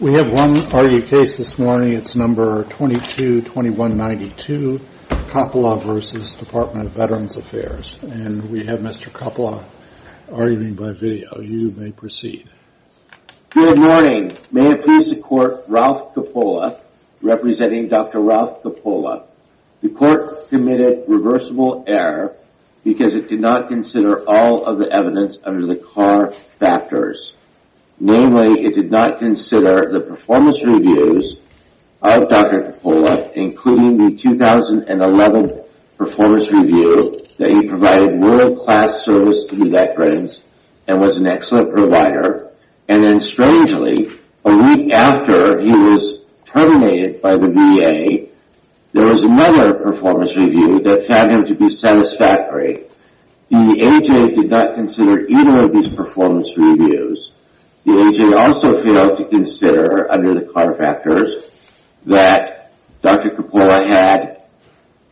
We have one argued case this morning, it's number 22-2192, Coppola v. Department of Veterans Affairs. And we have Mr. Coppola arguing by video. You may proceed. Good morning. May it please the court, Ralph Coppola, representing Dr. Ralph Coppola. The court committed reversible error because it did not consider all of the evidence under the CAR factors. Namely, it did not consider the performance reviews of Dr. Coppola, including the 2011 performance review that he provided world-class service to the veterans and was an excellent provider. And then strangely, a week after he was terminated by the VA, there was another performance review that found him to be satisfactory. The AJ did not consider either of these performance reviews. The AJ also failed to consider, under the CAR factors, that Dr. Coppola had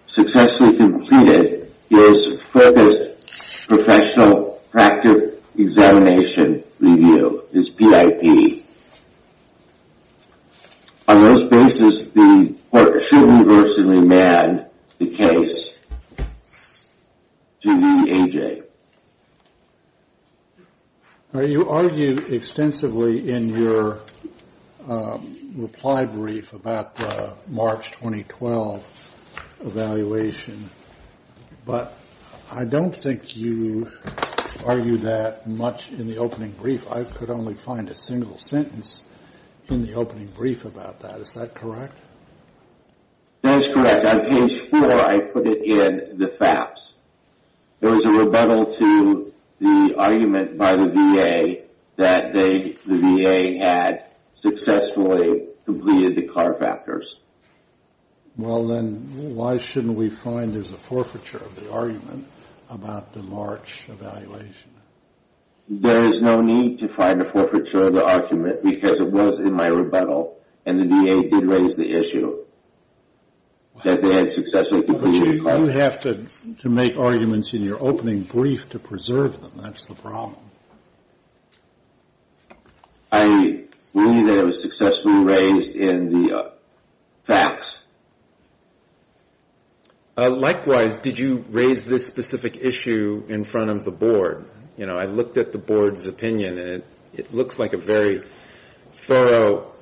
successfully completed his focused professional practice examination review, his PIP. On those basis, the court should reverse and remand the case to the AJ. You argued extensively in your reply brief about the March 2012 evaluation, but I don't think you argued that much in the opening brief. I could only find a single sentence in the opening brief about that. Is that correct? That is correct. On page 4, I put it in the FAPS. There was a rebuttal to the argument by the VA that the VA had successfully completed the CAR factors. Well, then, why shouldn't we find there's a forfeiture of the argument about the March evaluation? There is no need to find a forfeiture of the argument because it was in my rebuttal, and the VA did raise the issue that they had successfully completed the CAR factors. But you have to make arguments in your opening brief to preserve them. That's the problem. I believe that it was successfully raised in the FAPS. Likewise, did you raise this specific issue in front of the board? I looked at the board's opinion, and it looks like a very thorough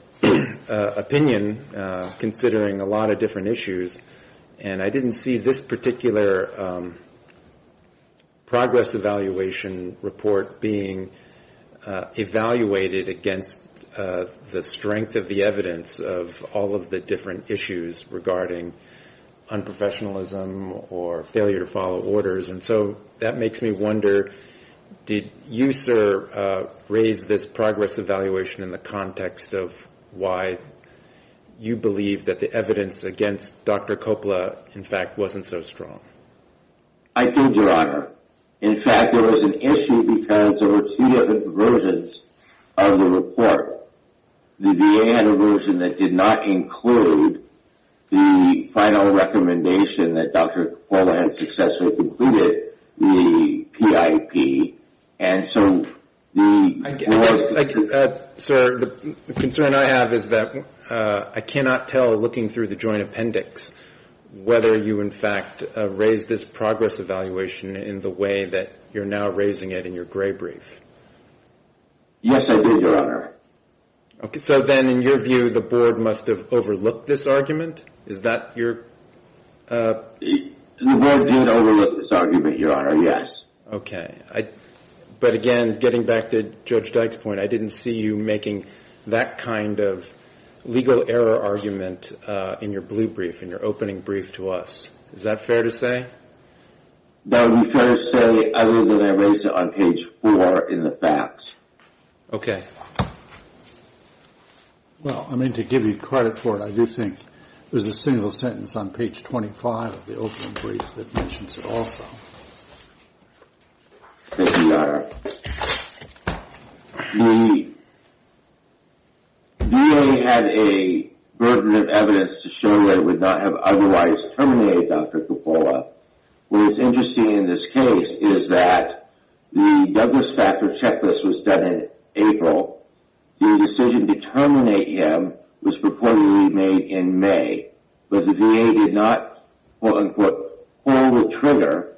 opinion, considering a lot of different issues, and I didn't see this particular progress evaluation report being evaluated against the strength of the evidence of all of the different issues regarding unprofessionalism or failure to follow orders. And so that makes me wonder, did you, sir, raise this progress evaluation in the context of why you believe that the evidence against Dr. Coppola, in fact, wasn't so strong? I did, Your Honor. In fact, there was an issue because there were two different versions of the report. The VA had a version that did not include the final recommendation that Dr. Coppola had successfully completed, the PIP. I guess, sir, the concern I have is that I cannot tell, looking through the joint appendix, whether you, in fact, raised this progress evaluation in the way that you're now raising it in your gray brief. Yes, I did, Your Honor. So then, in your view, the board must have overlooked this argument? Is that your... The board did overlook this argument, Your Honor, yes. Okay. But again, getting back to Judge Dyke's point, I didn't see you making that kind of legal error argument in your blue brief, in your opening brief to us. Is that fair to say? That would be fair to say, other than I raised it on page four in the facts. Okay. Well, I mean, to give you credit for it, I do think there's a single sentence on page 25 of the opening brief that mentions it also. Thank you, Your Honor. The VA had a burden of evidence to show that it would not have otherwise terminated Dr. Coppola. What is interesting in this case is that the Douglas factor checklist was done in April. The decision to terminate him was purportedly made in May, but the VA did not, quote, unquote, pull the trigger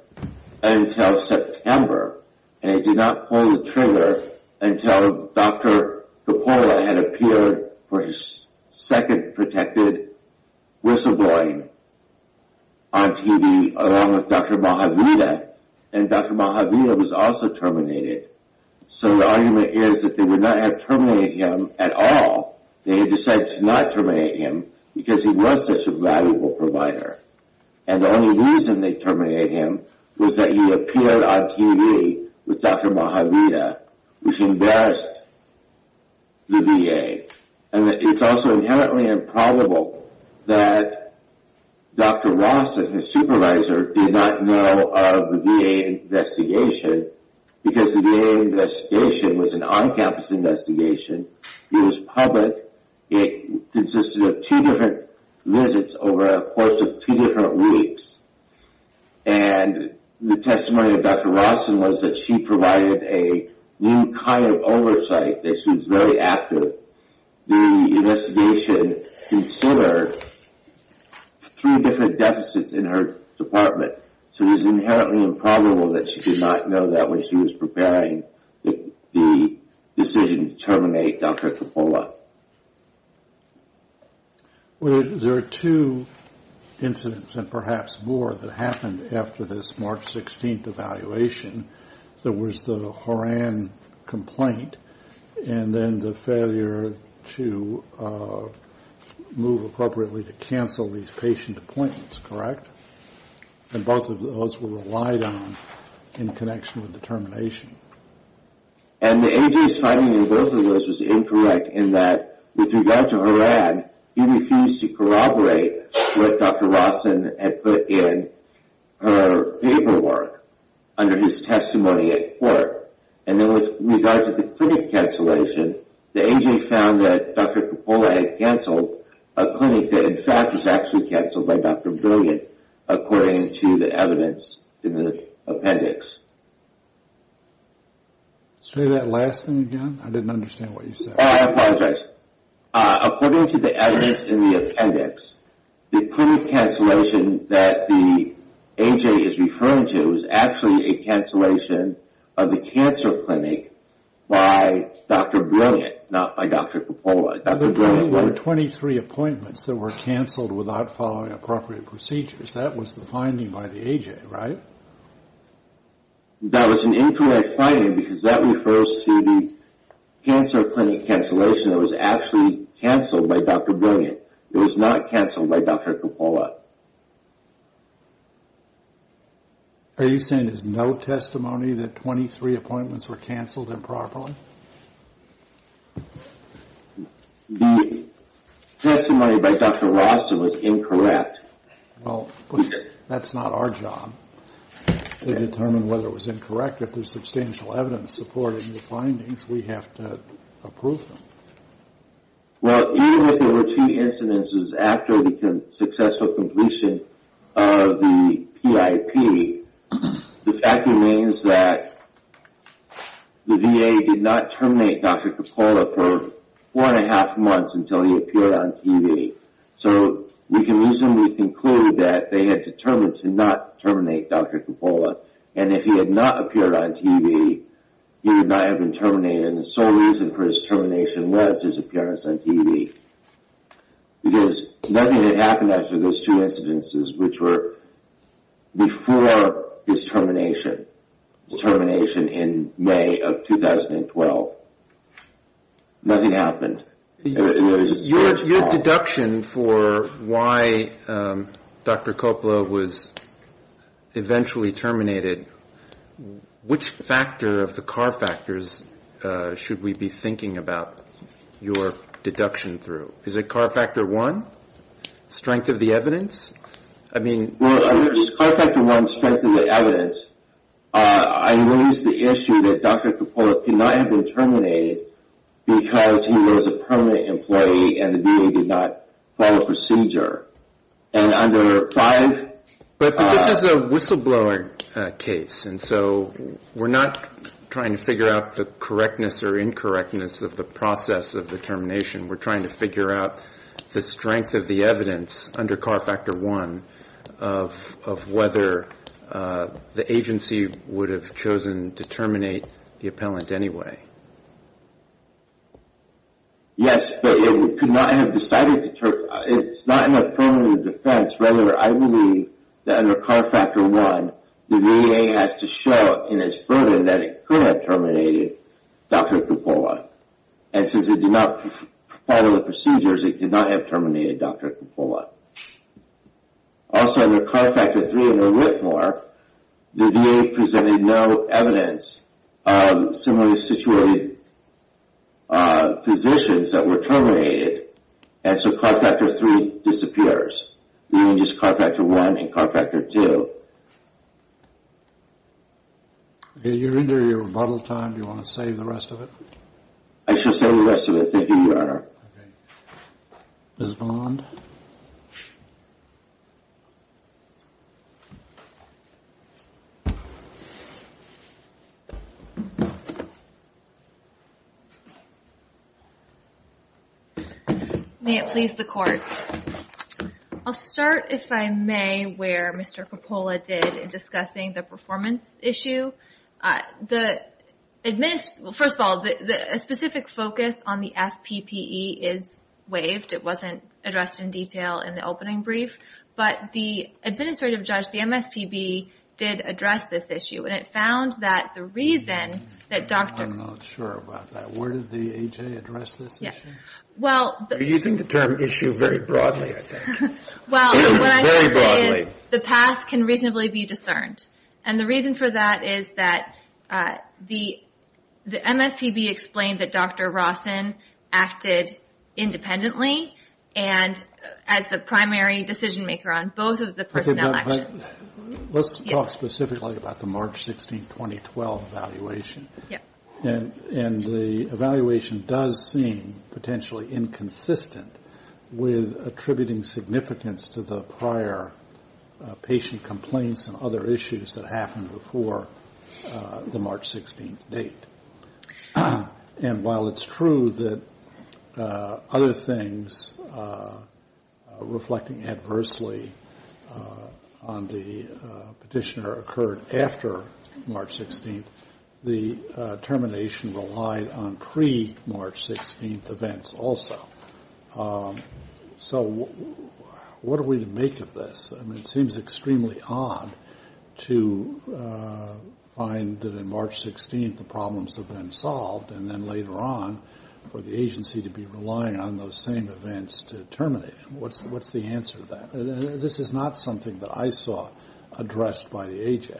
until September, and it did not pull the trigger until Dr. Coppola had appeared for his second protected whistleblowing on TV, along with Dr. Mojaveda, and Dr. Mojaveda was also terminated. So the argument is that they would not have terminated him at all. They had decided to not terminate him because he was such a valuable provider. And the only reason they terminated him was that he appeared on TV with Dr. Mojaveda, which embarrassed the VA. And it's also inherently improbable that Dr. Ross, as his supervisor, did not know of the VA investigation because the VA investigation was an on-campus investigation. It was public. It consisted of two different visits over a course of two different weeks, and the testimony of Dr. Ross was that she provided a new kind of oversight, that she was very active. The investigation considered three different deficits in her department, so it was inherently improbable that she did not know that when she was preparing the decision to terminate Dr. Coppola. Well, there are two incidents, and perhaps more, that happened after this March 16th evaluation. There was the Horan complaint and then the failure to move appropriately to cancel these patient appointments, correct? And both of those were relied on in connection with the termination. And the A.J.'s finding in both of those was incorrect in that, with regard to Horan, he refused to corroborate what Dr. Ross had put in her paperwork under his testimony at court. And then with regard to the clinic cancellation, the A.J. found that Dr. Coppola had canceled a clinic that, in fact, was actually canceled by Dr. Brilliant, according to the evidence in the appendix. Say that last thing again. I didn't understand what you said. Oh, I apologize. According to the evidence in the appendix, the clinic cancellation that the A.J. is referring to is actually a cancellation of the cancer clinic by Dr. Brilliant, not by Dr. Coppola. There were 23 appointments that were canceled without following appropriate procedures. That was the finding by the A.J., right? That was an incorrect finding because that refers to the cancer clinic cancellation that was actually canceled by Dr. Brilliant. It was not canceled by Dr. Coppola. Are you saying there's no testimony that 23 appointments were canceled improperly? The testimony by Dr. Ross was incorrect. Well, that's not our job to determine whether it was incorrect. If there's substantial evidence supporting the findings, we have to approve them. Well, even if there were two incidences after the successful completion of the PIP, the fact remains that the V.A. did not terminate Dr. Coppola for four and a half months until he appeared on TV. So we can reasonably conclude that they had determined to not terminate Dr. Coppola. And if he had not appeared on TV, he would not have been terminated. And the sole reason for his termination was his appearance on TV. Because nothing had happened after those two incidences, which were before his termination, his termination in May of 2012. Nothing happened. Your deduction for why Dr. Coppola was eventually terminated, which factor of the CAR factors should we be thinking about your deduction through? Is it CAR factor one, strength of the evidence? Well, under this CAR factor one, strength of the evidence, I raise the issue that Dr. Coppola could not have been terminated because he was a permanent employee and the V.A. did not follow procedure. But this is a whistle-blowing case, and so we're not trying to figure out the correctness or incorrectness of the process of the termination. We're trying to figure out the strength of the evidence under CAR factor one of whether the agency would have chosen to terminate the appellant anyway. Yes, but it could not have decided to terminate. It's not in our permanent defense. Rather, I believe that under CAR factor one, the V.A. has to show in its burden that it could have terminated Dr. Coppola. And since it did not follow the procedures, it could not have terminated Dr. Coppola. Also, under CAR factor three, under RITMOR, the V.A. presented no evidence of similarly situated physicians that were terminated, and so CAR factor three disappears, leaving just CAR factor one and CAR factor two. Okay, you're into your rebuttal time. Do you want to save the rest of it? I shall save the rest of it. Thank you, Your Honor. Okay. Ms. Bond? May it please the Court. I'll start, if I may, where Mr. Coppola did in discussing the performance issue. First of all, a specific focus on the FPPE is waived. It wasn't addressed in detail in the opening brief. But the administrative judge, the MSPB, did address this issue, and it found that the reason that Dr. I'm not sure about that. Where did the A.J. address this issue? You're using the term issue very broadly, I think. Well, what I'm trying to say is the path can reasonably be discerned. And the reason for that is that the MSPB explained that Dr. Rawson acted independently and as the primary decision maker on both of the personnel actions. Let's talk specifically about the March 16, 2012, evaluation. And the evaluation does seem potentially inconsistent with attributing significance to the prior patient complaints and other issues that happened before the March 16 date. And while it's true that other things reflecting adversely on the petitioner occurred after March 16, the termination relied on pre-March 16 events also. So what are we to make of this? I mean, it seems extremely odd to find that in March 16 the problems have been solved and then later on for the agency to be relying on those same events to terminate them. What's the answer to that? This is not something that I saw addressed by the A.J.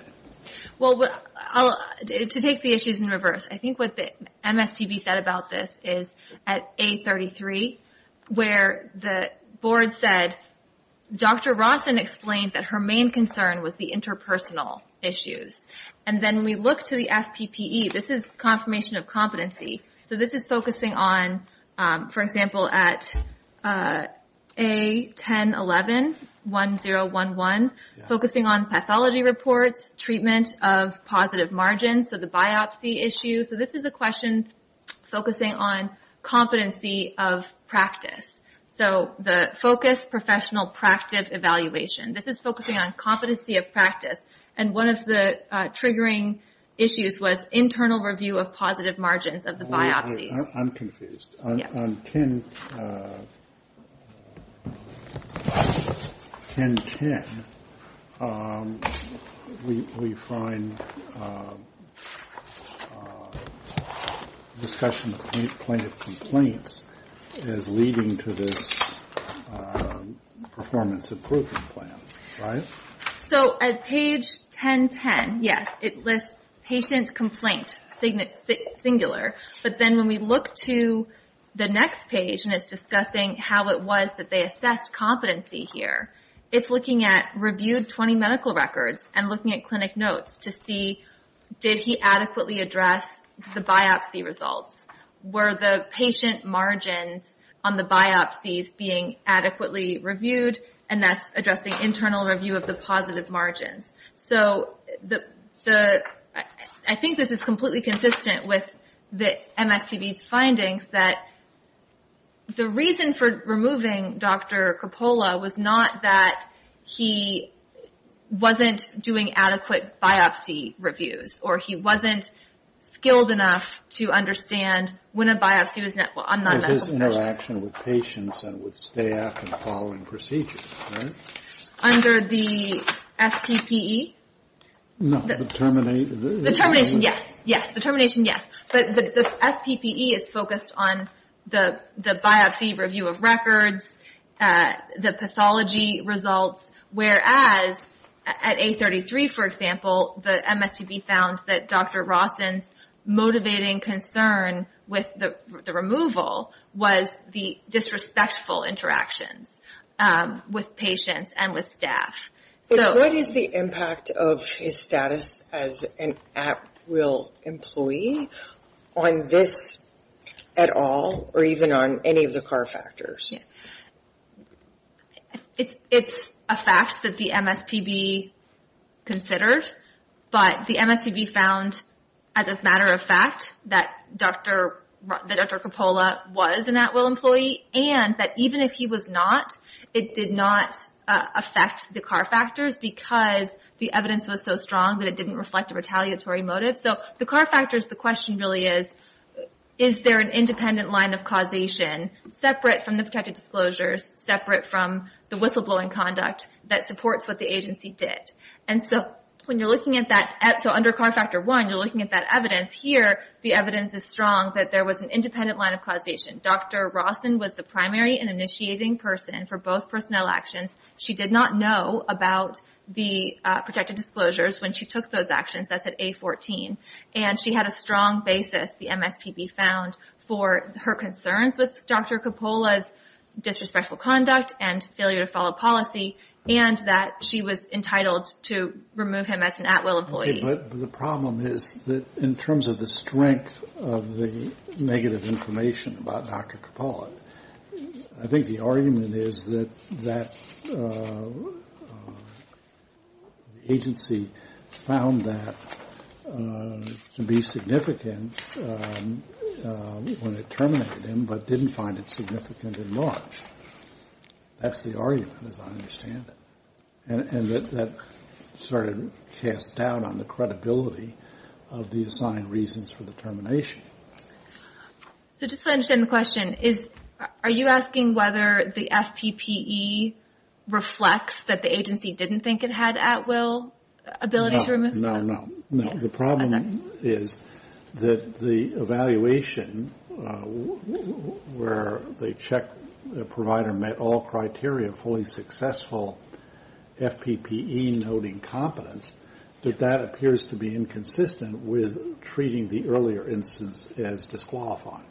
Well, to take the issues in reverse, I think what the MSPB said about this is at A33, where the board said Dr. Rawson explained that her main concern was the interpersonal issues. And then we look to the FPPE. This is confirmation of competency. So this is focusing on, for example, at A1011, 1011, focusing on pathology reports, treatment of positive margins, so the biopsy issue. So this is a question focusing on competency of practice. So the focus, professional practice evaluation. This is focusing on competency of practice. And one of the triggering issues was internal review of positive margins of the biopsies. I'm confused. On 1010, we find discussion of plaintiff complaints is leading to this performance improvement plan, right? So at page 1010, yes, it lists patient complaint, singular. But then when we look to the next page, and it's discussing how it was that they assessed competency here, it's looking at reviewed 20 medical records and looking at clinic notes to see, did he adequately address the biopsy results? Were the patient margins on the biopsies being adequately reviewed? And that's addressing internal review of the positive margins. So I think this is completely consistent with the MSPB's findings, that the reason for removing Dr. Coppola was not that he wasn't doing adequate biopsy reviews, or he wasn't skilled enough to understand when a biopsy was done. It's his interaction with patients and with staff and following procedures, right? Under the FPPE? No, the termination. The termination, yes. Yes, the termination, yes. But the FPPE is focused on the biopsy review of records, the pathology results, whereas at A33, for example, the MSPB found that Dr. Rawson's motivating concern with the removal was the disrespectful interactions with patients and with staff. What is the impact of his status as an at-will employee on this at all, or even on any of the CAR factors? It's a fact that the MSPB considered, but the MSPB found, as a matter of fact, that Dr. Coppola was an at-will employee, and that even if he was not, it did not affect the CAR factors because the evidence was so strong that it didn't reflect a retaliatory motive. So the CAR factors, the question really is, is there an independent line of causation separate from the protected disclosures, separate from the whistleblowing conduct that supports what the agency did? So under CAR Factor 1, you're looking at that evidence. Here, the evidence is strong that there was an independent line of causation. Dr. Rawson was the primary and initiating person for both personnel actions. She did not know about the protected disclosures when she took those actions. That's at A14. And she had a strong basis, the MSPB found, for her concerns with Dr. Coppola's disrespectful conduct and failure to follow policy, and that she was entitled to remove him as an at-will employee. But the problem is that in terms of the strength of the negative information about Dr. Coppola, I think the argument is that the agency found that to be significant when it terminated him, but didn't find it significant in March. That's the argument, as I understand it. And that sort of casts doubt on the credibility of the assigned reasons for the termination. So just so I understand the question, are you asking whether the FPPE reflects that the agency didn't think it had at-will ability to remove him? No, no, no. The problem is that the evaluation where the check provider met all criteria, fully successful FPPE noting competence, that that appears to be inconsistent with treating the earlier instance as disqualified.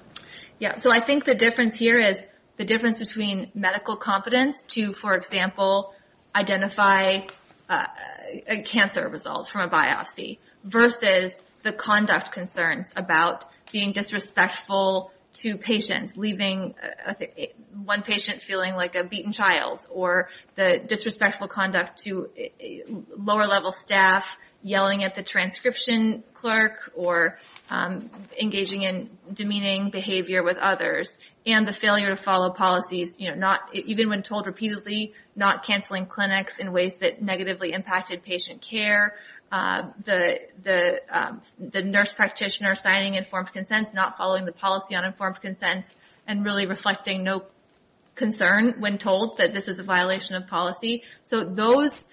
Yeah. So I think the difference here is the difference between medical competence to, for example, identify a cancer result from a biopsy, versus the conduct concerns about being disrespectful to patients, leaving one patient feeling like a beaten child, or the disrespectful conduct to lower-level staff, yelling at the transcription clerk, or engaging in demeaning behavior with others, and the failure to follow policies, even when told repeatedly, not canceling clinics in ways that negatively impacted patient care, the nurse practitioner signing informed consents, not following the policy on informed consents, and really reflecting no concern when told that this is a violation of policy. So those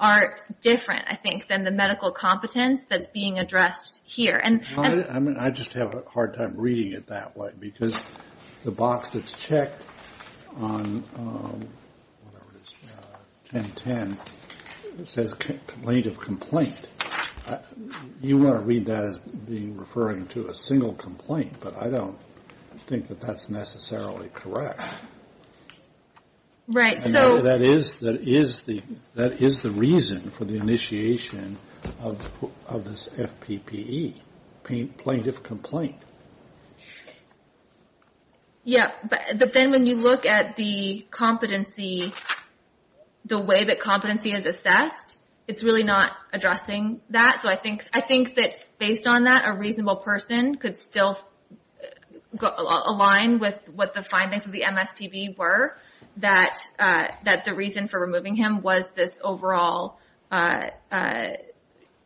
are different, I think, than the medical competence that's being addressed here. I just have a hard time reading it that way, because the box that's checked on 1010 says complaint of complaint. You want to read that as referring to a single complaint, but I don't think that that's necessarily correct. That is the reason for the initiation of this FPPE, plaintiff complaint. Yeah. But then when you look at the competency, the way that competency is assessed, it's really not addressing that. So I think that based on that, a reasonable person could still align with what the findings of the MSPB were, that the reason for removing him was this overall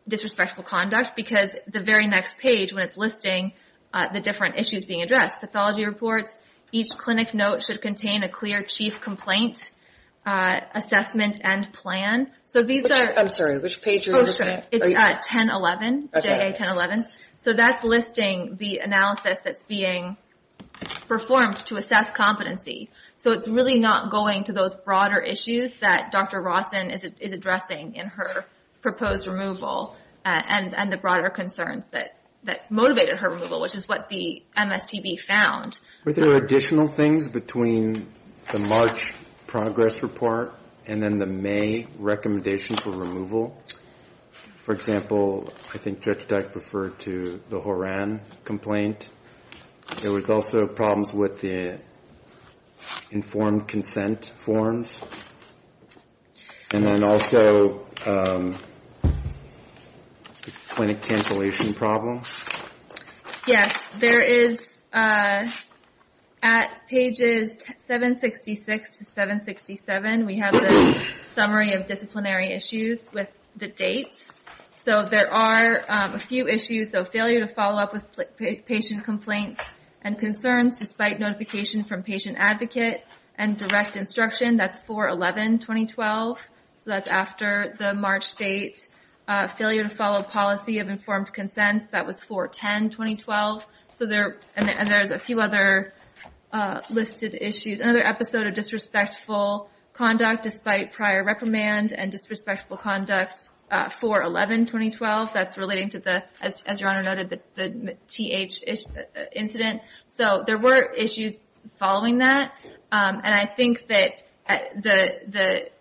disrespectful conduct, because the very next page, when it's listing the different issues being addressed, pathology reports, each clinic note should contain a clear chief complaint assessment and plan. I'm sorry, which page are you looking at? It's 1011, JA 1011. So that's listing the analysis that's being performed to assess competency. So it's really not going to those broader issues that Dr. Rawson is addressing in her proposed removal and the broader concerns that motivated her removal, which is what the MSPB found. Were there additional things between the March progress report and then the May recommendation for removal? For example, I think Judge Dyke referred to the Horan complaint. There was also problems with the informed consent forms. And then also the clinic cancellation problem. Yes, there is, at pages 766 to 767, we have the summary of disciplinary issues with the dates. So there are a few issues. So failure to follow up with patient complaints and concerns despite notification from patient advocate and direct instruction, that's 4-11-2012. So that's after the March date. Failure to follow policy of informed consent, that was 4-10-2012. And there's a few other listed issues. Another episode of disrespectful conduct despite prior reprimand and disrespectful conduct, 4-11-2012. That's relating to the, as Your Honor noted, the TH incident. So there were issues following that. And I think that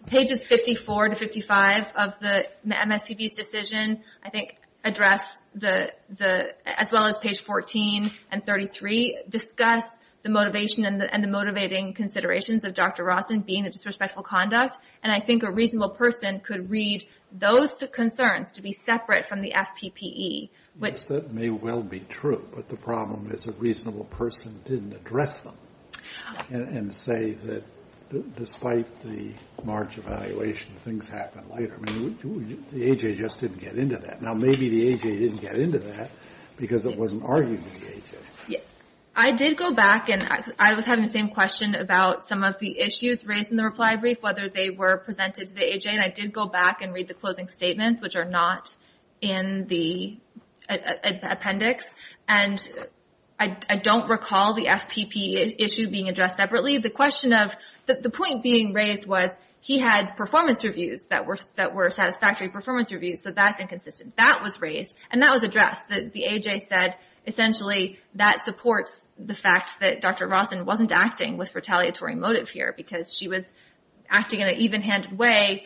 pages 54 to 55 of the MSPB's decision, I think, address, as well as page 14 and 33, discuss the motivation and the motivating considerations of Dr. Rawson being a disrespectful conduct. And I think a reasonable person could read those concerns to be separate from the FPPE. Yes, that may well be true, but the problem is a reasonable person didn't address them. And say that despite the March evaluation, things happened later. I mean, the AHA just didn't get into that. Now, maybe the AHA didn't get into that because it wasn't arguing with the AHA. I did go back and I was having the same question about some of the issues raised in the reply brief, whether they were presented to the AHA. And I did go back and read the closing statements, which are not in the appendix. And I don't recall the FPPE issue being addressed separately. The point being raised was he had performance reviews that were satisfactory performance reviews, so that's inconsistent. That was raised and that was addressed. The AHA said essentially that supports the fact that Dr. Rawson wasn't acting with retaliatory motive here because she was acting in an even-handed way,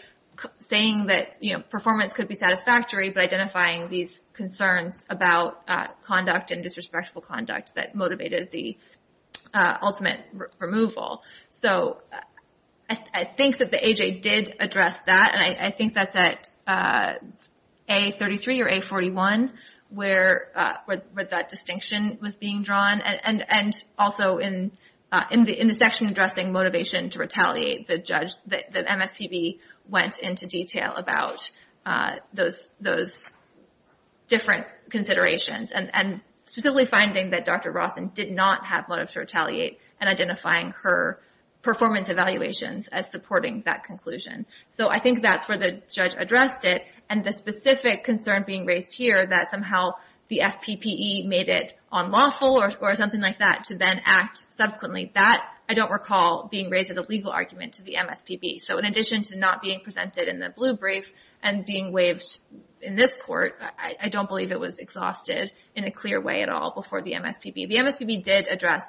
saying that performance could be satisfactory, but identifying these concerns about conduct and disrespectful conduct that motivated the ultimate removal. So I think that the AHA did address that. And I think that's at A33 or A41 where that distinction was being drawn. And also in the section addressing motivation to retaliate, the MSPB went into detail about those different considerations, and specifically finding that Dr. Rawson did not have motive to retaliate and identifying her performance evaluations as supporting that conclusion. So I think that's where the judge addressed it. And the specific concern being raised here that somehow the FPPE made it unlawful or something like that to then act subsequently, that I don't recall being raised as a legal argument to the MSPB. So in addition to not being presented in the blue brief and being waived in this court, I don't believe it was exhausted in a clear way at all before the MSPB. The MSPB did address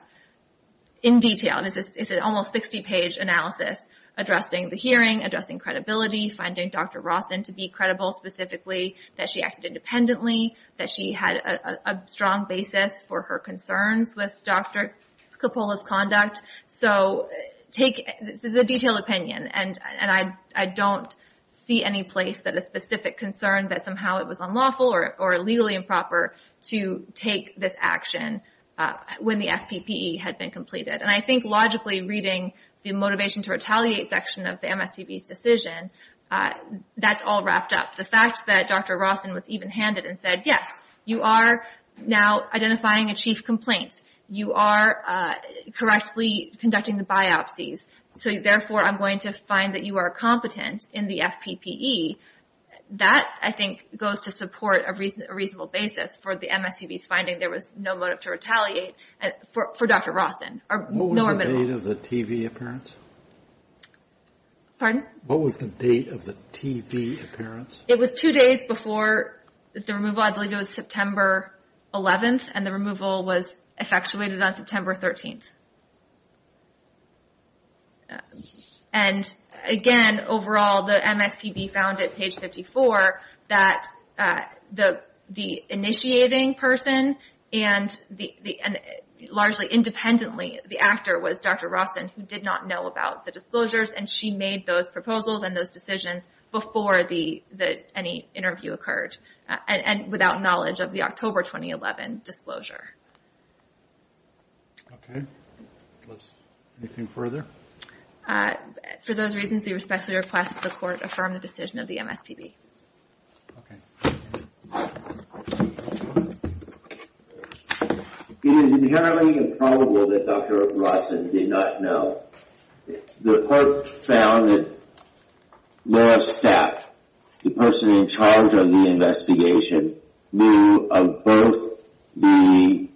in detail. It's an almost 60-page analysis addressing the hearing, addressing credibility, finding Dr. Rawson to be credible specifically, that she acted independently, that she had a strong basis for her concerns with Dr. Coppola's conduct. So this is a detailed opinion, and I don't see any place that a specific concern that somehow it was unlawful or legally improper to take this action when the FPPE had been completed. And I think logically reading the motivation to retaliate section of the MSPB's decision, that's all wrapped up. The fact that Dr. Rawson was even-handed and said, yes, you are now identifying a chief complaint, you are correctly conducting the biopsies, so therefore I'm going to find that you are competent in the FPPE, that I think goes to support a reasonable basis for the MSPB's finding there was no motive to retaliate for Dr. Rawson. What was the date of the TV appearance? Pardon? What was the date of the TV appearance? It was two days before the removal. I believe it was September 11th, and the removal was effectuated on September 13th. And again, overall, the MSPB found at page 54 that the initiating person, and largely independently the actor was Dr. Rawson, who did not know about the disclosures, and she made those proposals and those decisions before any interview occurred, and without knowledge of the October 2011 disclosure. Okay. Anything further? For those reasons, we respectfully request that the Court affirm the decision of the MSPB. Okay. It is inherently improbable that Dr. Rawson did not know. The Court found that Laura Stapp, the person in charge of the investigation, knew of both the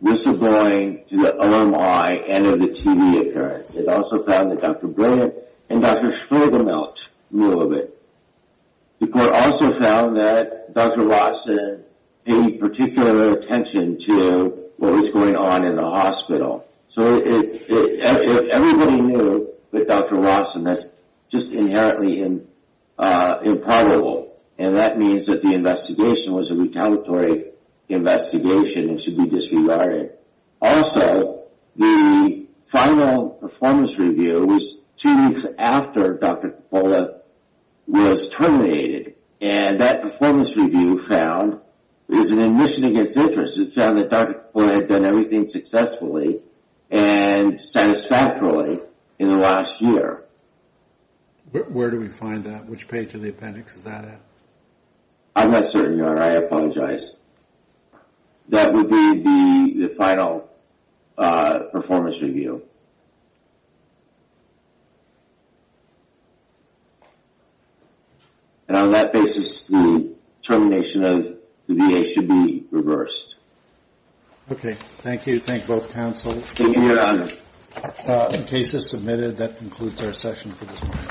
whistleblowing to the OMI and of the TV appearance. It also found that Dr. Brennan and Dr. Schwedemelt knew of it. The Court also found that Dr. Rawson paid particular attention to what was going on in the hospital. So everybody knew that Dr. Rawson, that's just inherently improbable, and that means that the investigation was a retaliatory investigation and should be disregarded. Also, the final performance review was two weeks after Dr. Coppola was terminated, and that performance review found it was an admission against interest. It found that Dr. Coppola had done everything successfully and satisfactorily in the last year. Where do we find that? Which page of the appendix is that at? I'm not certain, Your Honor. I apologize. That would be the final performance review. And on that basis, the termination of the VA should be reversed. Okay. Thank you. Thank you, both counsels. Thank you, Your Honor. The case is submitted. That concludes our session for this morning.